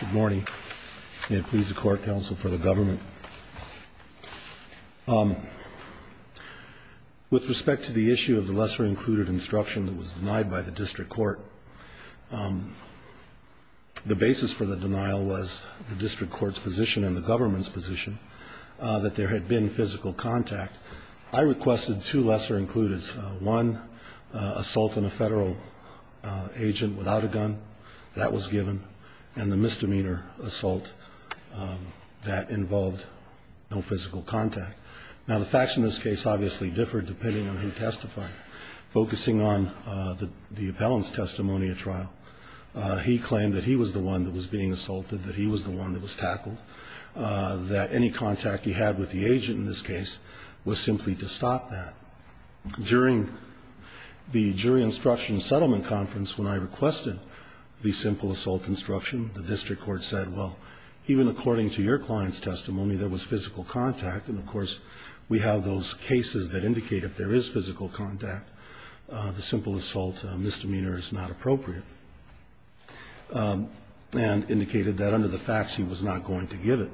Good morning. May it please the court, counsel, for the government. With respect to the issue of the lesser-included instruction that was denied by the district court, the basis for the denial was the district court's position and the government's position that there had been physical contact. I requested two lesser-included, one assault on a federal agent without a gun, that was given, and the misdemeanor assault that involved no physical contact. Now, the facts in this case obviously differed depending on who testified. Focusing on the appellant's testimony at trial, he claimed that he was the one that was being assaulted, that he was the one that was tackled, that any contact he had with the agent in this case was simply to stop that. During the jury instruction settlement conference, when I requested the simple assault instruction, the district court said, well, even according to your client's testimony, there was physical contact. And, of course, we have those cases that indicate if there is physical contact, the simple assault misdemeanor is not appropriate, and indicated that under the facts he was not going to give it.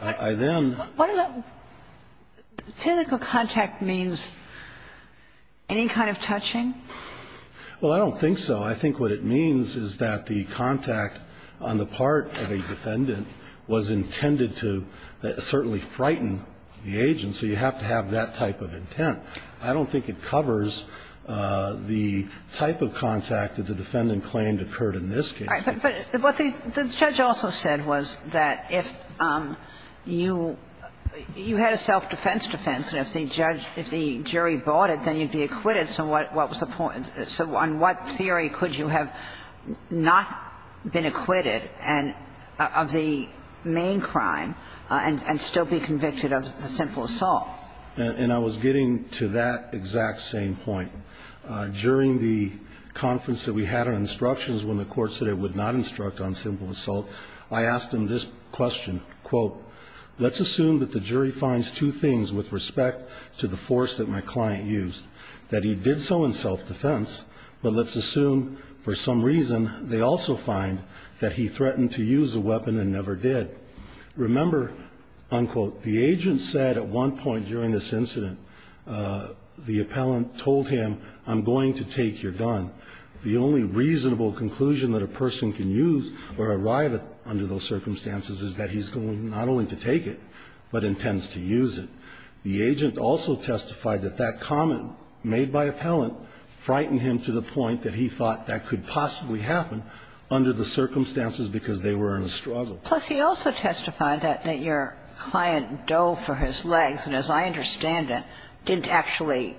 I then ---- What does that ---- physical contact means? Any kind of touching? Well, I don't think so. I think what it means is that the contact on the part of a defendant was intended to certainly frighten the agent, so you have to have that type of intent. I don't think it covers the type of contact that the defendant claimed occurred in this case. All right. But what the judge also said was that if you ---- you had a self-defense defense, and if the judge ---- if the jury bought it, then you'd be acquitted. So what was the point? So on what theory could you have not been acquitted and ---- of the main crime and still be convicted of the simple assault? And I was getting to that exact same point. During the conference that we had on instructions when the Court said it would not instruct on simple assault, I asked him this question, quote, let's assume that the jury finds two things with respect to the force that my client used, that he did so in self-defense, but let's assume for some reason they also find that he threatened to use a weapon and never did. Remember, unquote, the agent said at one point during this incident, the appellant told him, I'm going to take your gun. The only reasonable conclusion that a person can use or arrive at under those circumstances is that he's going not only to take it, but intends to use it. The agent also testified that that comment made by appellant frightened him to the point that he thought that could possibly happen under the circumstances because they were in a struggle. Plus, he also testified that your client dove for his legs, and as I understand it, didn't actually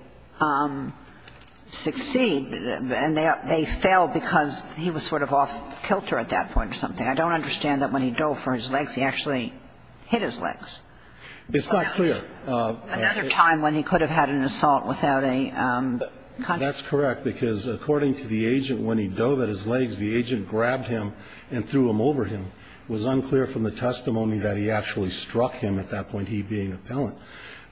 succeed, and they failed because he was sort of off kilter at that point or something. I don't understand that when he dove for his legs, he actually hit his legs. It's not clear. Another time when he could have had an assault without a contract. That's correct, because according to the agent, when he dove at his legs, the agent grabbed him and threw him over him. It was unclear from the testimony that he actually struck him at that point, he being appellant.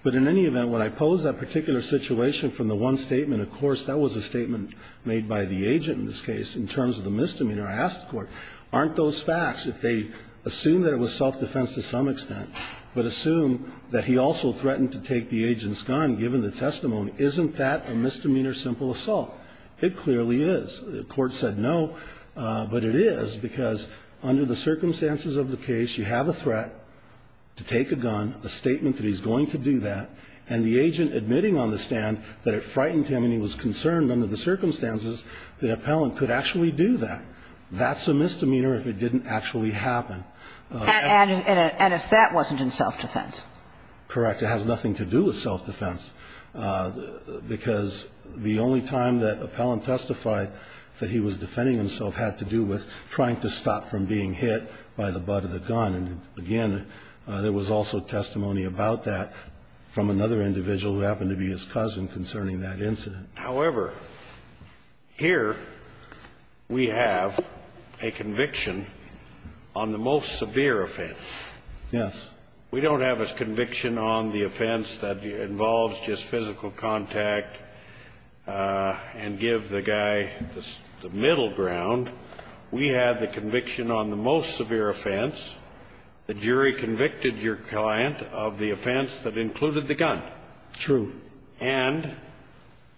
But in any event, when I pose that particular situation from the one statement, of course, that was a statement made by the agent in this case in terms of the misdemeanor. I asked the Court, aren't those facts, if they assume that it was self-defense to some extent, but assume that he also threatened to take the agent's gun given the testimony, isn't that a misdemeanor simple assault? It clearly is. The Court said no, but it is because under the circumstances of the case, you have a threat to take a gun, a statement that he's going to do that, and the agent admitting on the stand that it frightened him and he was concerned under the circumstances that appellant could actually do that. That's a misdemeanor if it didn't actually happen. And if that wasn't in self-defense? Correct. It has nothing to do with self-defense, because the only time that appellant testified that he was defending himself had to do with trying to stop from being hit by the butt of the gun. And again, there was also testimony about that from another individual who happened to be his cousin concerning that incident. However, here we have a conviction on the most severe offense. Yes. We don't have a conviction on the offense that involves just physical contact and give the guy the middle ground. We have the conviction on the most severe offense. The jury convicted your client of the offense that included the gun. True. And,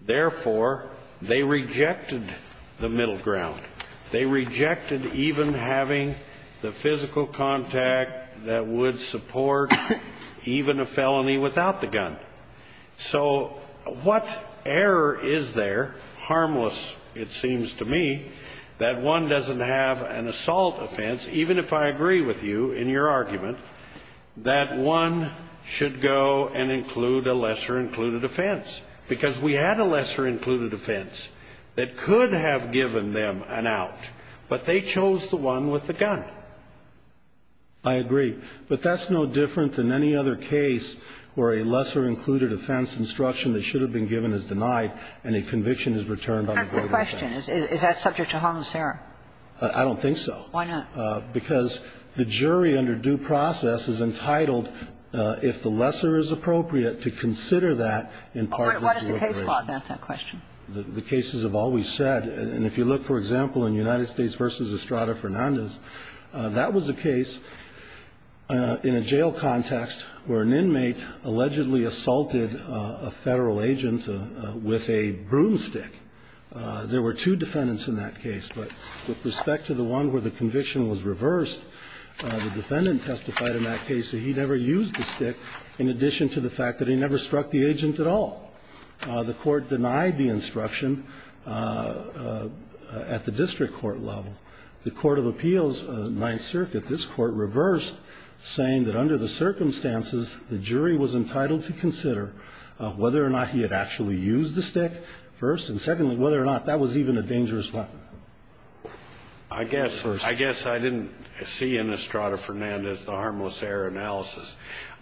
therefore, they rejected the middle ground. They rejected even having the physical contact that would support even a felony without the gun. So what error is there, harmless it seems to me, that one doesn't have an assault offense, even if I agree with you in your argument, that one should go and include a lesser-included offense? Because we had a lesser-included offense that could have given them an out, but they chose the one with the gun. I agree. But that's no different than any other case where a lesser-included offense instruction that should have been given is denied and a conviction is returned on a greater offense. That's the question. Is that subject to harmless error? I don't think so. Why not? Because the jury under due process is entitled, if the lesser is appropriate, to consider that in part. What is the case law about that question? The cases have always said, and if you look, for example, in United States v. Estrada Fernandez, that was a case in a jail context where an inmate allegedly assaulted a Federal agent with a broomstick. There were two defendants in that case. But with respect to the one where the conviction was reversed, the defendant testified in that case that he never used the stick, in addition to the fact that he never struck the agent at all. The Court denied the instruction at the district court level. The Court of Appeals, Ninth Circuit, this Court reversed, saying that under the circumstances, the jury was entitled to consider whether or not he had actually used the stick first, and secondly, whether or not that was even a dangerous weapon. I guess I didn't see in Estrada Fernandez the harmless error analysis.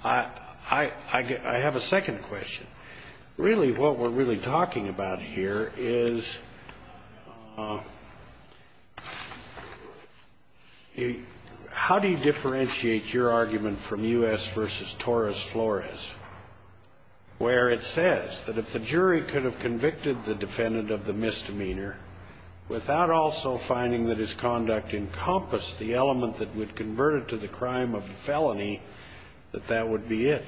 I have a second question. Really, what we're really talking about here is how do you differentiate your argument from U.S. v. Torres Flores, where it says that if the jury could have convicted the defendant of the misdemeanor without also finding that his conduct encompassed the element that would convert it to the crime of felony, that that would be it?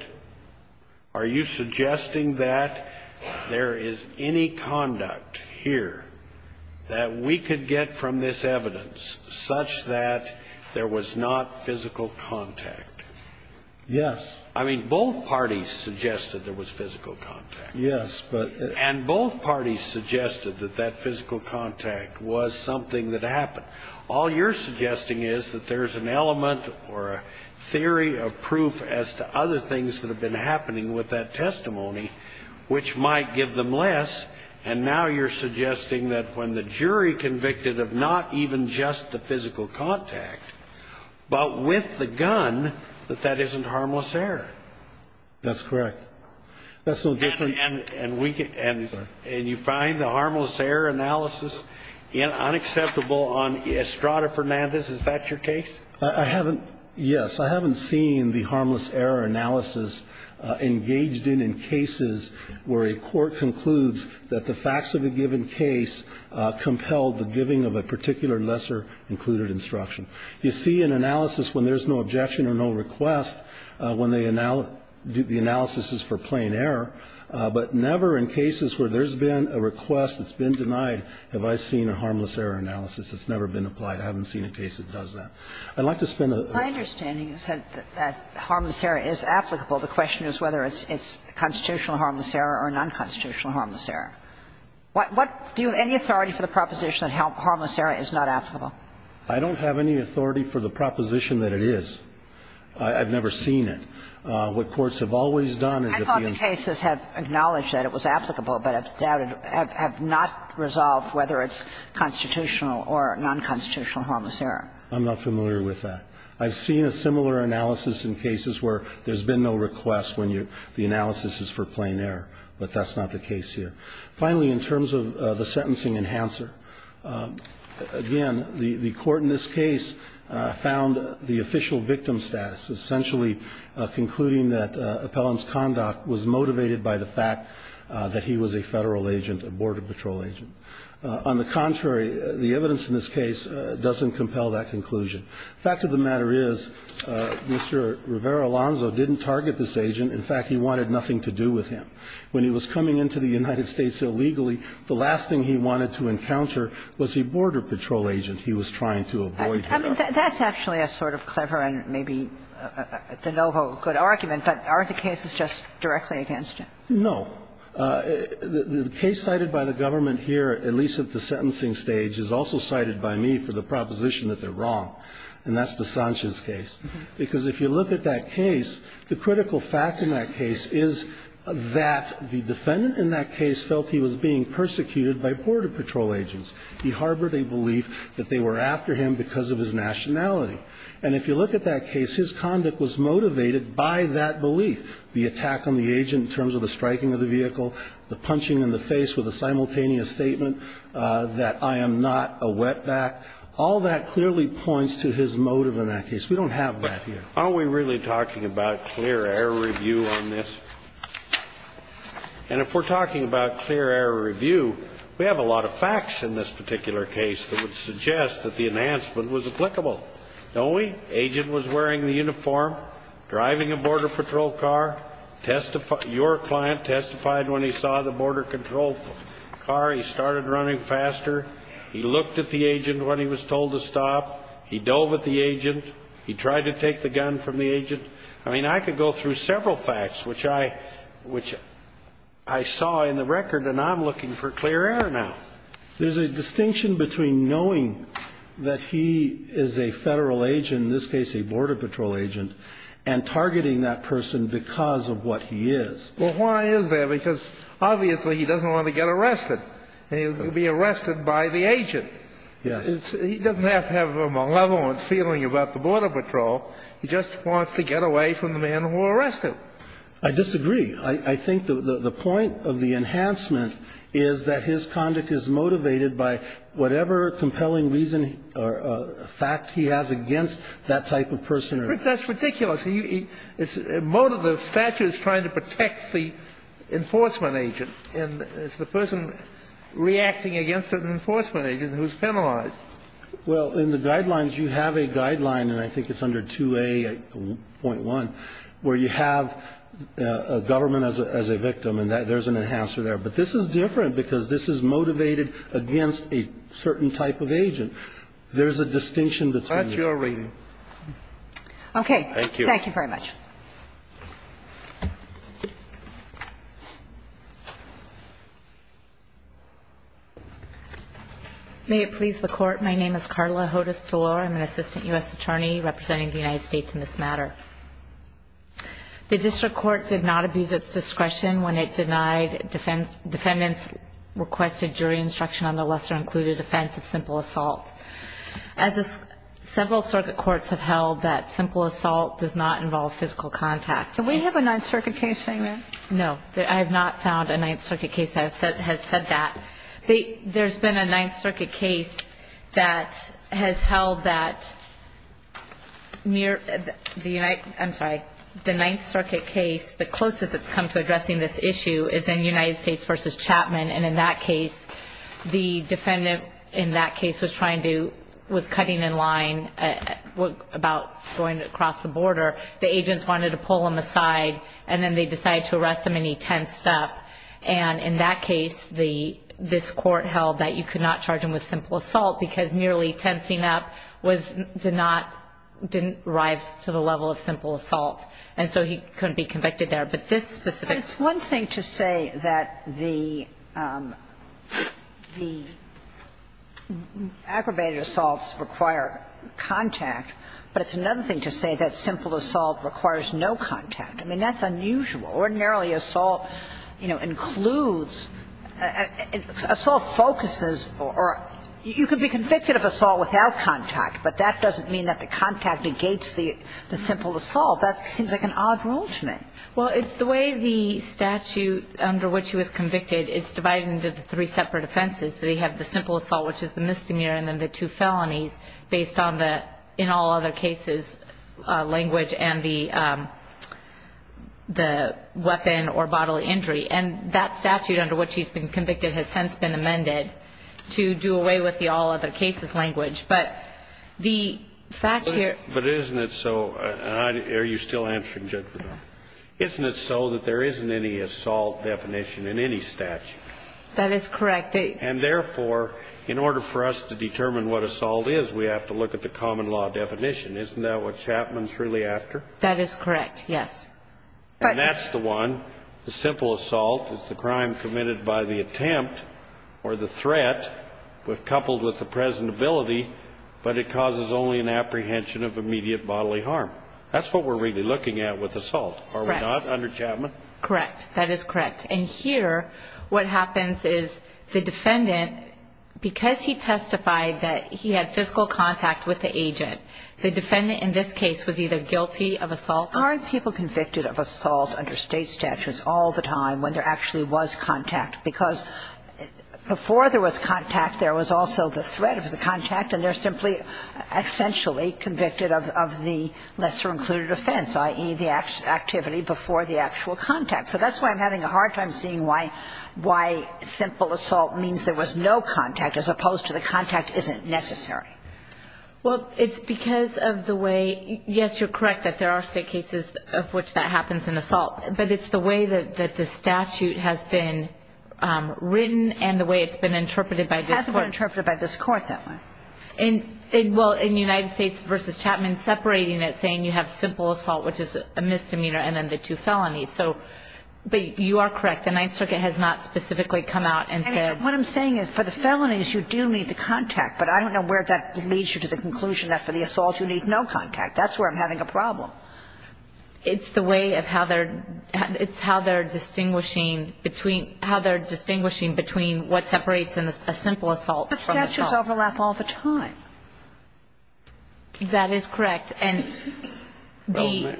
Are you suggesting that there is any conduct here that we could get from this evidence such that there was not physical contact? Yes. I mean, both parties suggested there was physical contact. Yes, but... And both parties suggested that that physical contact was something that happened. All you're suggesting is that there's an element or a theory of proof as to other things that have been happening with that testimony which might give them less, and now you're suggesting that when the jury convicted of not even just the physical contact, but with the gun, that that isn't harmless error. That's correct. That's a little different. And you find the harmless error analysis unacceptable on Estrada Fernandez. Is that your case? I haven't, yes. I haven't seen the harmless error analysis engaged in in cases where a court concludes that the facts of a given case compelled the giving of a particular lesser included instruction. You see an analysis when there's no objection or no request, when the analysis is for plain error, but never in cases where there's been a request that's been denied have I seen a harmless error analysis. It's never been applied. I haven't seen a case that does that. I'd like to spend a... My understanding is that harmless error is applicable. The question is whether it's constitutional harmless error or nonconstitutional harmless error. Do you have any authority for the proposition that harmless error is not applicable? I don't have any authority for the proposition that it is. I've never seen it. What courts have always done is... I thought the cases have acknowledged that it was applicable, but have doubted or have not resolved whether it's constitutional or nonconstitutional harmless error. I'm not familiar with that. I've seen a similar analysis in cases where there's been no request when the analysis is for plain error, but that's not the case here. Finally, in terms of the sentencing enhancer, again, the court in this case found the official victim status, essentially concluding that Appellant's conduct was motivated by the fact that he was a Federal agent, a Border Patrol agent. On the contrary, the evidence in this case doesn't compel that conclusion. The fact of the matter is Mr. Rivera-Alonzo didn't target this agent. In fact, he wanted nothing to do with him. When he was coming into the United States illegally, the last thing he wanted to encounter was a Border Patrol agent he was trying to avoid. I mean, that's actually a sort of clever and maybe de novo good argument, but aren't the cases just directly against him? No. The case cited by the government here, at least at the sentencing stage, is also cited by me for the proposition that they're wrong. And that's the Sanchez case. Because if you look at that case, the critical fact in that case is that the defendant in that case felt he was being persecuted by Border Patrol agents. He harbored a belief that they were after him because of his nationality. And if you look at that case, his conduct was motivated by that belief, the attack on the agent in terms of the striking of the vehicle, the punching in the face with a simultaneous statement that I am not a wetback. All that clearly points to his motive in that case. We don't have that here. Aren't we really talking about clear error review on this? And if we're talking about clear error review, we have a lot of facts in this particular case that would suggest that the enhancement was applicable. Don't we? Agent was wearing the uniform, driving a Border Patrol car. Your client testified when he saw the Border Control car. He started running faster. He looked at the agent when he was told to stop. He tried to take the gun from the agent. I mean, I could go through several facts, which I, which I saw in the record, and I'm looking for clear error now. There's a distinction between knowing that he is a Federal agent, in this case a Border Patrol agent, and targeting that person because of what he is. Well, why is that? Because obviously he doesn't want to get arrested. He was going to be arrested by the agent. Yes. He doesn't have to have a malevolent feeling about the Border Patrol. He just wants to get away from the man who arrested him. I disagree. I think the point of the enhancement is that his conduct is motivated by whatever compelling reason or fact he has against that type of person. That's ridiculous. The statute is trying to protect the enforcement agent. And it's the person reacting against an enforcement agent who is penalized. Well, in the guidelines, you have a guideline, and I think it's under 2A.1, where you have a government as a victim, and there's an enhancer there. But this is different because this is motivated against a certain type of agent. There's a distinction between the two. That's your reading. Okay. Thank you. Thank you very much. May it please the Court. My name is Carla Hodes-Delore. I'm an Assistant U.S. Attorney representing the United States in this matter. The District Court did not abuse its discretion when it denied defendants requested jury instruction on the lesser-included offense of simple assault. As several circuit courts have held, that simple assault does not involve physical assault. Do we have a Ninth Circuit case saying that? No. I have not found a Ninth Circuit case that has said that. There's been a Ninth Circuit case that has held that mere – I'm sorry. The Ninth Circuit case, the closest it's come to addressing this issue, is in United States v. Chapman. And in that case, the defendant in that case was trying to – was cutting in line about going across the border. The agents wanted to pull him aside, and then they decided to arrest him, and he tensed up. And in that case, this Court held that you could not charge him with simple assault because merely tensing up was – did not – didn't rise to the level of simple assault. And so he couldn't be convicted there. But this specific – It's one thing to say that the aggravated assaults require contact, but it's another thing to say that simple assault requires no contact. I mean, that's unusual. Ordinarily, assault, you know, includes – assault focuses or – you can be convicted of assault without contact, but that doesn't mean that the contact negates the simple assault. That seems like an odd rule to me. Well, it's the way the statute under which he was convicted is divided into the three separate offenses. They have the simple assault, which is the misdemeanor, and then the two felonies based on the in-all-other-cases language and the weapon or bodily injury. And that statute under which he's been convicted has since been amended to do away with the all-other-cases language. But the fact here – But isn't it so – and are you still answering, Judge? Isn't it so that there isn't any assault definition in any statute? That is correct. And therefore, in order for us to determine what assault is, we have to look at the common law definition. Isn't that what Chapman's really after? That is correct, yes. And that's the one, the simple assault is the crime committed by the attempt or the threat coupled with the presentability, but it causes only an apprehension of immediate bodily harm. That's what we're really looking at with assault, are we not, under Chapman? Correct. That is correct. And here, what happens is the defendant, because he testified that he had physical contact with the agent, the defendant in this case was either guilty of assault or guilty of assault. Aren't people convicted of assault under State statutes all the time when there actually was contact? Because before there was contact, there was also the threat of the contact, and they're simply essentially convicted of the lesser-included offense, i.e., the activity before the actual contact. So that's why I'm having a hard time seeing why simple assault means there was no contact as opposed to the contact isn't necessary. Well, it's because of the way, yes, you're correct that there are State cases of which that happens in assault, but it's the way that the statute has been written and the way it's been interpreted by this court. It hasn't been interpreted by this court, that one. Well, in United States v. Chapman, separating it, saying you have simple assault, which is a misdemeanor, and then the two felonies. So, but you are correct. The Ninth Circuit has not specifically come out and said. And what I'm saying is for the felonies, you do need the contact. But I don't know where that leads you to the conclusion that for the assault, you need no contact. That's where I'm having a problem. It's the way of how they're distinguishing between what separates a simple assault from the assault. But statutes overlap all the time. That is correct. And the.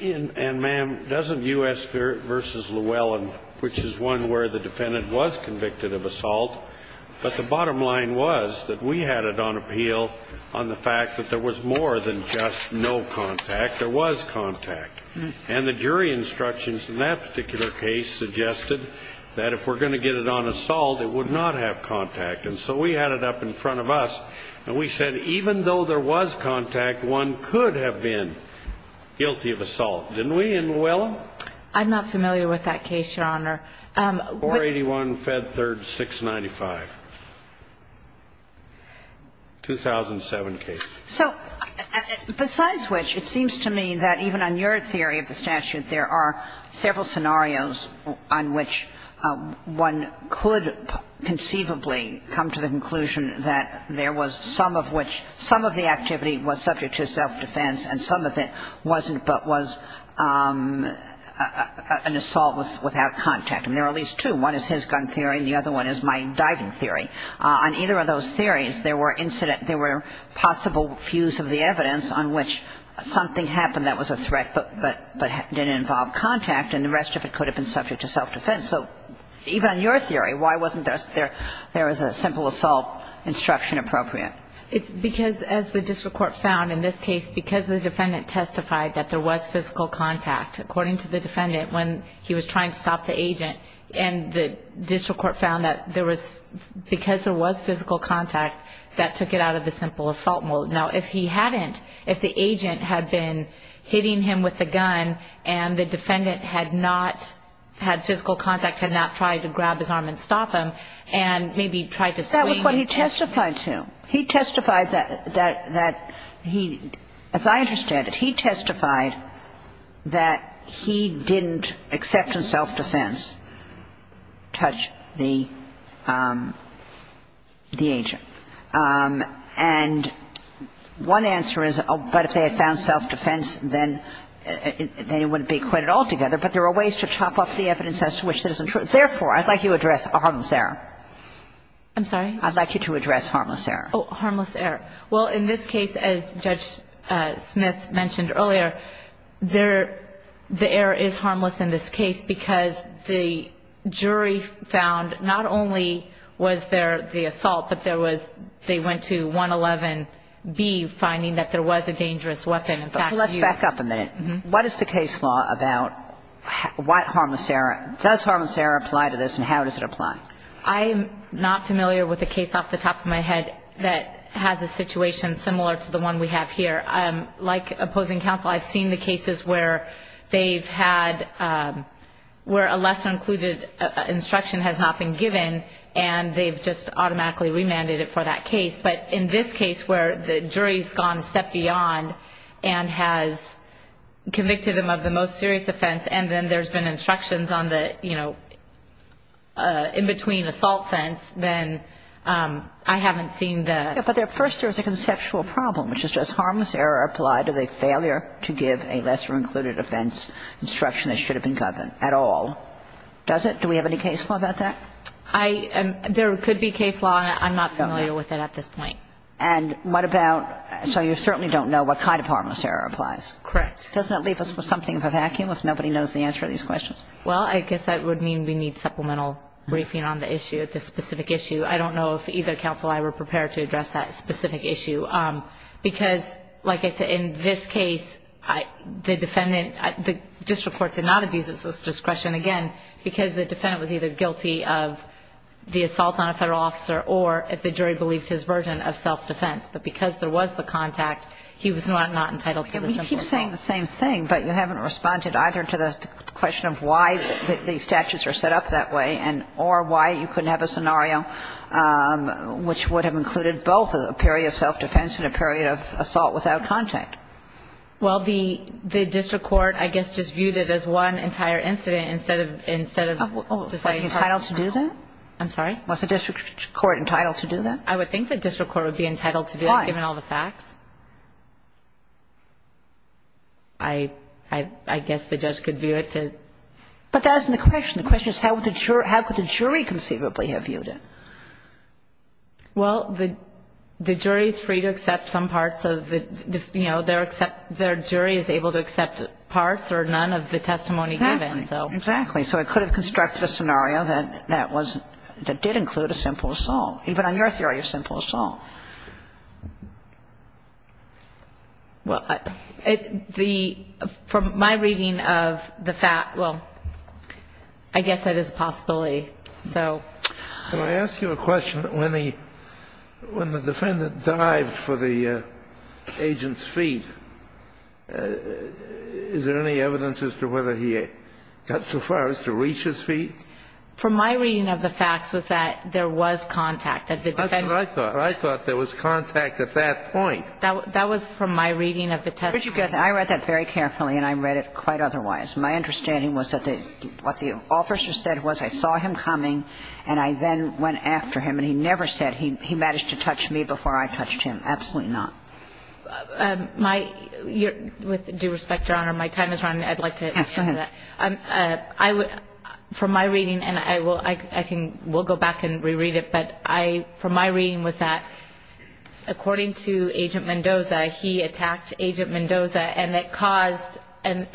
And, ma'am, doesn't U.S. v. Llewellyn, which is one where the defendant was convicted of assault, but the bottom line was that we had it on appeal on the fact that there was more than just no contact. There was contact. And the jury instructions in that particular case suggested that if we're going to get it on assault, it would not have contact. And so we had it up in front of us. And we said even though there was contact, one could have been guilty of assault, didn't we, in Llewellyn? I'm not familiar with that case, Your Honor. 481 Fed Third 695. 2007 case. So besides which, it seems to me that even on your theory of the statute, there are several scenarios on which one could conceivably come to the conclusion that there was some of which, some of the activity was subject to self-defense and some of it wasn't but was an assault without contact. And there are at least two. One is his gun theory and the other one is my diving theory. On either of those theories, there were incident, there were possible views of the evidence on which something happened that was a threat but didn't involve contact and the rest of it could have been subject to self-defense. And so even on your theory, why wasn't there a simple assault instruction appropriate? It's because as the district court found in this case, because the defendant testified that there was physical contact, according to the defendant, when he was trying to stop the agent and the district court found that there was, because there was physical contact, that took it out of the simple assault mode. Now if he hadn't, if the agent had been hitting him with the gun and the defendant had not had physical contact, had not tried to grab his arm and stop him and maybe tried to swing it. That was what he testified to. He testified that he, as I understand it, he testified that he didn't, except in self-defense, touch the agent. And one answer is, oh, but if they had found self-defense, then it wouldn't be So it's a case where the defendant has not testified at all together, but there are ways to chop up the evidence as to which citizenship was used. Therefore, I'd like you to address harmless error. I'm sorry? I'd like you to address harmless error. Oh, harmless error. Well, in this case, as Judge Smith mentioned earlier, there, the error is harmless in this case because the jury found not only was there the assault, but there was, they went to 111B, finding that there was a dangerous weapon in fact used. Let's back up a minute. What is the case law about what harmless error? Does harmless error apply to this, and how does it apply? I'm not familiar with a case off the top of my head that has a situation similar to the one we have here. Like opposing counsel, I've seen the cases where they've had, where a lesser included instruction has not been given, and they've just automatically remanded it for that case. But in this case, where the jury's gone a step beyond and has convicted them of the most serious offense, and then there's been instructions on the, you know, in between assault fence, then I haven't seen the. Yeah, but first there's a conceptual problem, which is does harmless error apply to the failure to give a lesser included offense instruction that should have been governed at all? Does it? Do we have any case law about that? There could be case law, and I'm not familiar with it at this point. And what about, so you certainly don't know what kind of harmless error applies? Correct. Doesn't that leave us with something of a vacuum if nobody knows the answer to these questions? Well, I guess that would mean we need supplemental briefing on the issue, the specific issue. I don't know if either counsel or I were prepared to address that specific issue, because like I said, in this case, the defendant, the district court did not abuse its discretion, again, because the defendant was either guilty of the assault on a federal officer or, if the jury believed his version, of self-defense. But because there was the contact, he was not entitled to the simple assault. And we keep saying the same thing, but you haven't responded either to the question of why these statutes are set up that way or why you couldn't have a scenario which would have included both a period of self-defense and a period of assault without contact. Well, the district court, I guess, just viewed it as one entire incident instead of deciding. Was he entitled to do that? I'm sorry? Was the district court entitled to do that? I would think the district court would be entitled to do that, given all the facts. Why? I guess the judge could view it to. But that isn't the question. The question is how would the jury conceivably have viewed it? Well, the jury is free to accept some parts of the, you know, their jury is able to accept parts or none of the testimony given. Exactly. Exactly. So it could have constructed a scenario that was, that did include a simple assault, even on your theory of simple assault. Well, from my reading of the fact, well, I guess that is a possibility. Can I ask you a question? When the defendant dived for the agent's feet, is there any evidence as to whether he got so far as to reach his feet? From my reading of the facts was that there was contact. That's what I thought. I thought there was contact at that point. That was from my reading of the testimony. I read that very carefully, and I read it quite otherwise. My understanding was that what the officer said was I saw him coming, and I then went after him, and he never said he managed to touch me before I touched him. Absolutely not. With due respect, Your Honor, my time has run. I'd like to answer that. Yes, go ahead. From my reading, and I will, I can, we'll go back and reread it. But from my reading was that according to Agent Mendoza, he attacked Agent Mendoza, and it caused, and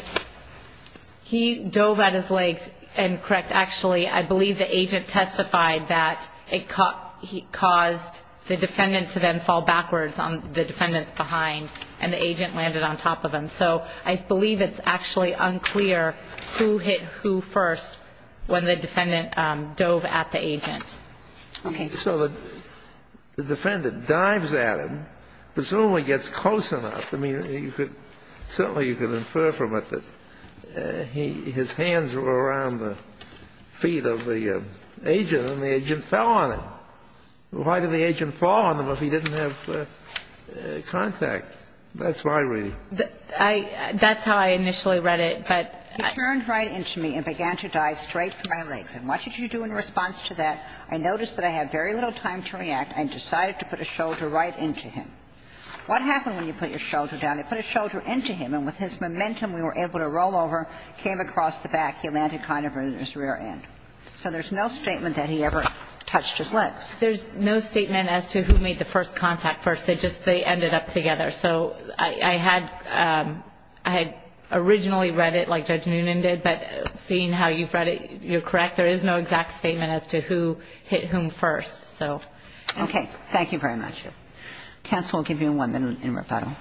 he dove at his legs, and correct, actually, I believe the agent testified that it caused the defendant to then fall backwards on the defendant's behind, and the agent landed on top of him. So I believe it's actually unclear who hit who first when the defendant dove at the agent. Okay. So the defendant dives at him, presumably gets close enough. I mean, certainly you could infer from it that his hands were around the feet of the agent, and the agent fell on him. Why did the agent fall on him if he didn't have contact? That's my reading. That's how I initially read it. He turned right into me and began to dive straight for my legs. And what did you do in response to that? I noticed that I had very little time to react. I decided to put a shoulder right into him. What happened when you put your shoulder down? You put a shoulder into him, and with his momentum, we were able to roll over, came across the back, he landed kind of on his rear end. So there's no statement that he ever touched his legs. There's no statement as to who made the first contact first. They just ended up together. So I had originally read it like Judge Noonan did, but seeing how you've read it, you're correct. There is no exact statement as to who hit whom first. So. Okay. Thank you very much. Counsel, I'll give you one minute in reparo.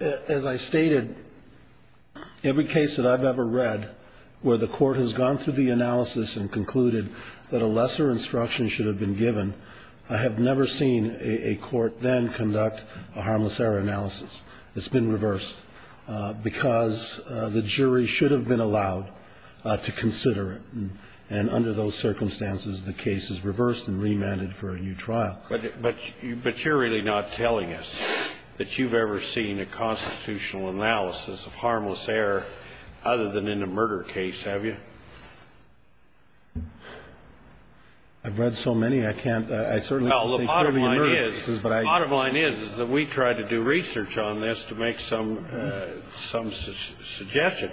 As I stated, every case that I've ever read where the court has gone through the analysis and concluded that a lesser instruction should have been given, I have never seen a court then conduct a harmless error analysis. It's been reversed because the jury should have been allowed to consider it. And under those circumstances, the case is reversed and remanded for a new trial. But you're really not telling us that you've ever seen a constitutional analysis of harmless error other than in a murder case, have you? I've read so many, I can't. Well, the bottom line is that we tried to do research on this to make some suggestion.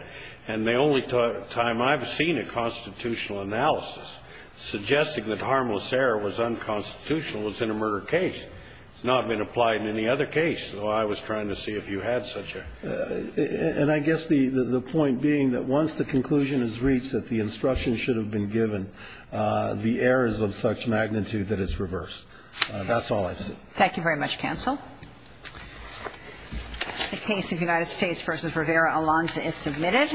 And the only time I've seen a constitutional analysis suggesting that harmless error was unconstitutional was in a murder case. It's not been applied in any other case. So I was trying to see if you had such a. And I guess the point being that once the conclusion is reached that the instruction should have been given, the error is of such magnitude that it's reversed. Thank you very much, counsel. The case of United States v. Rivera-Alonso is submitted.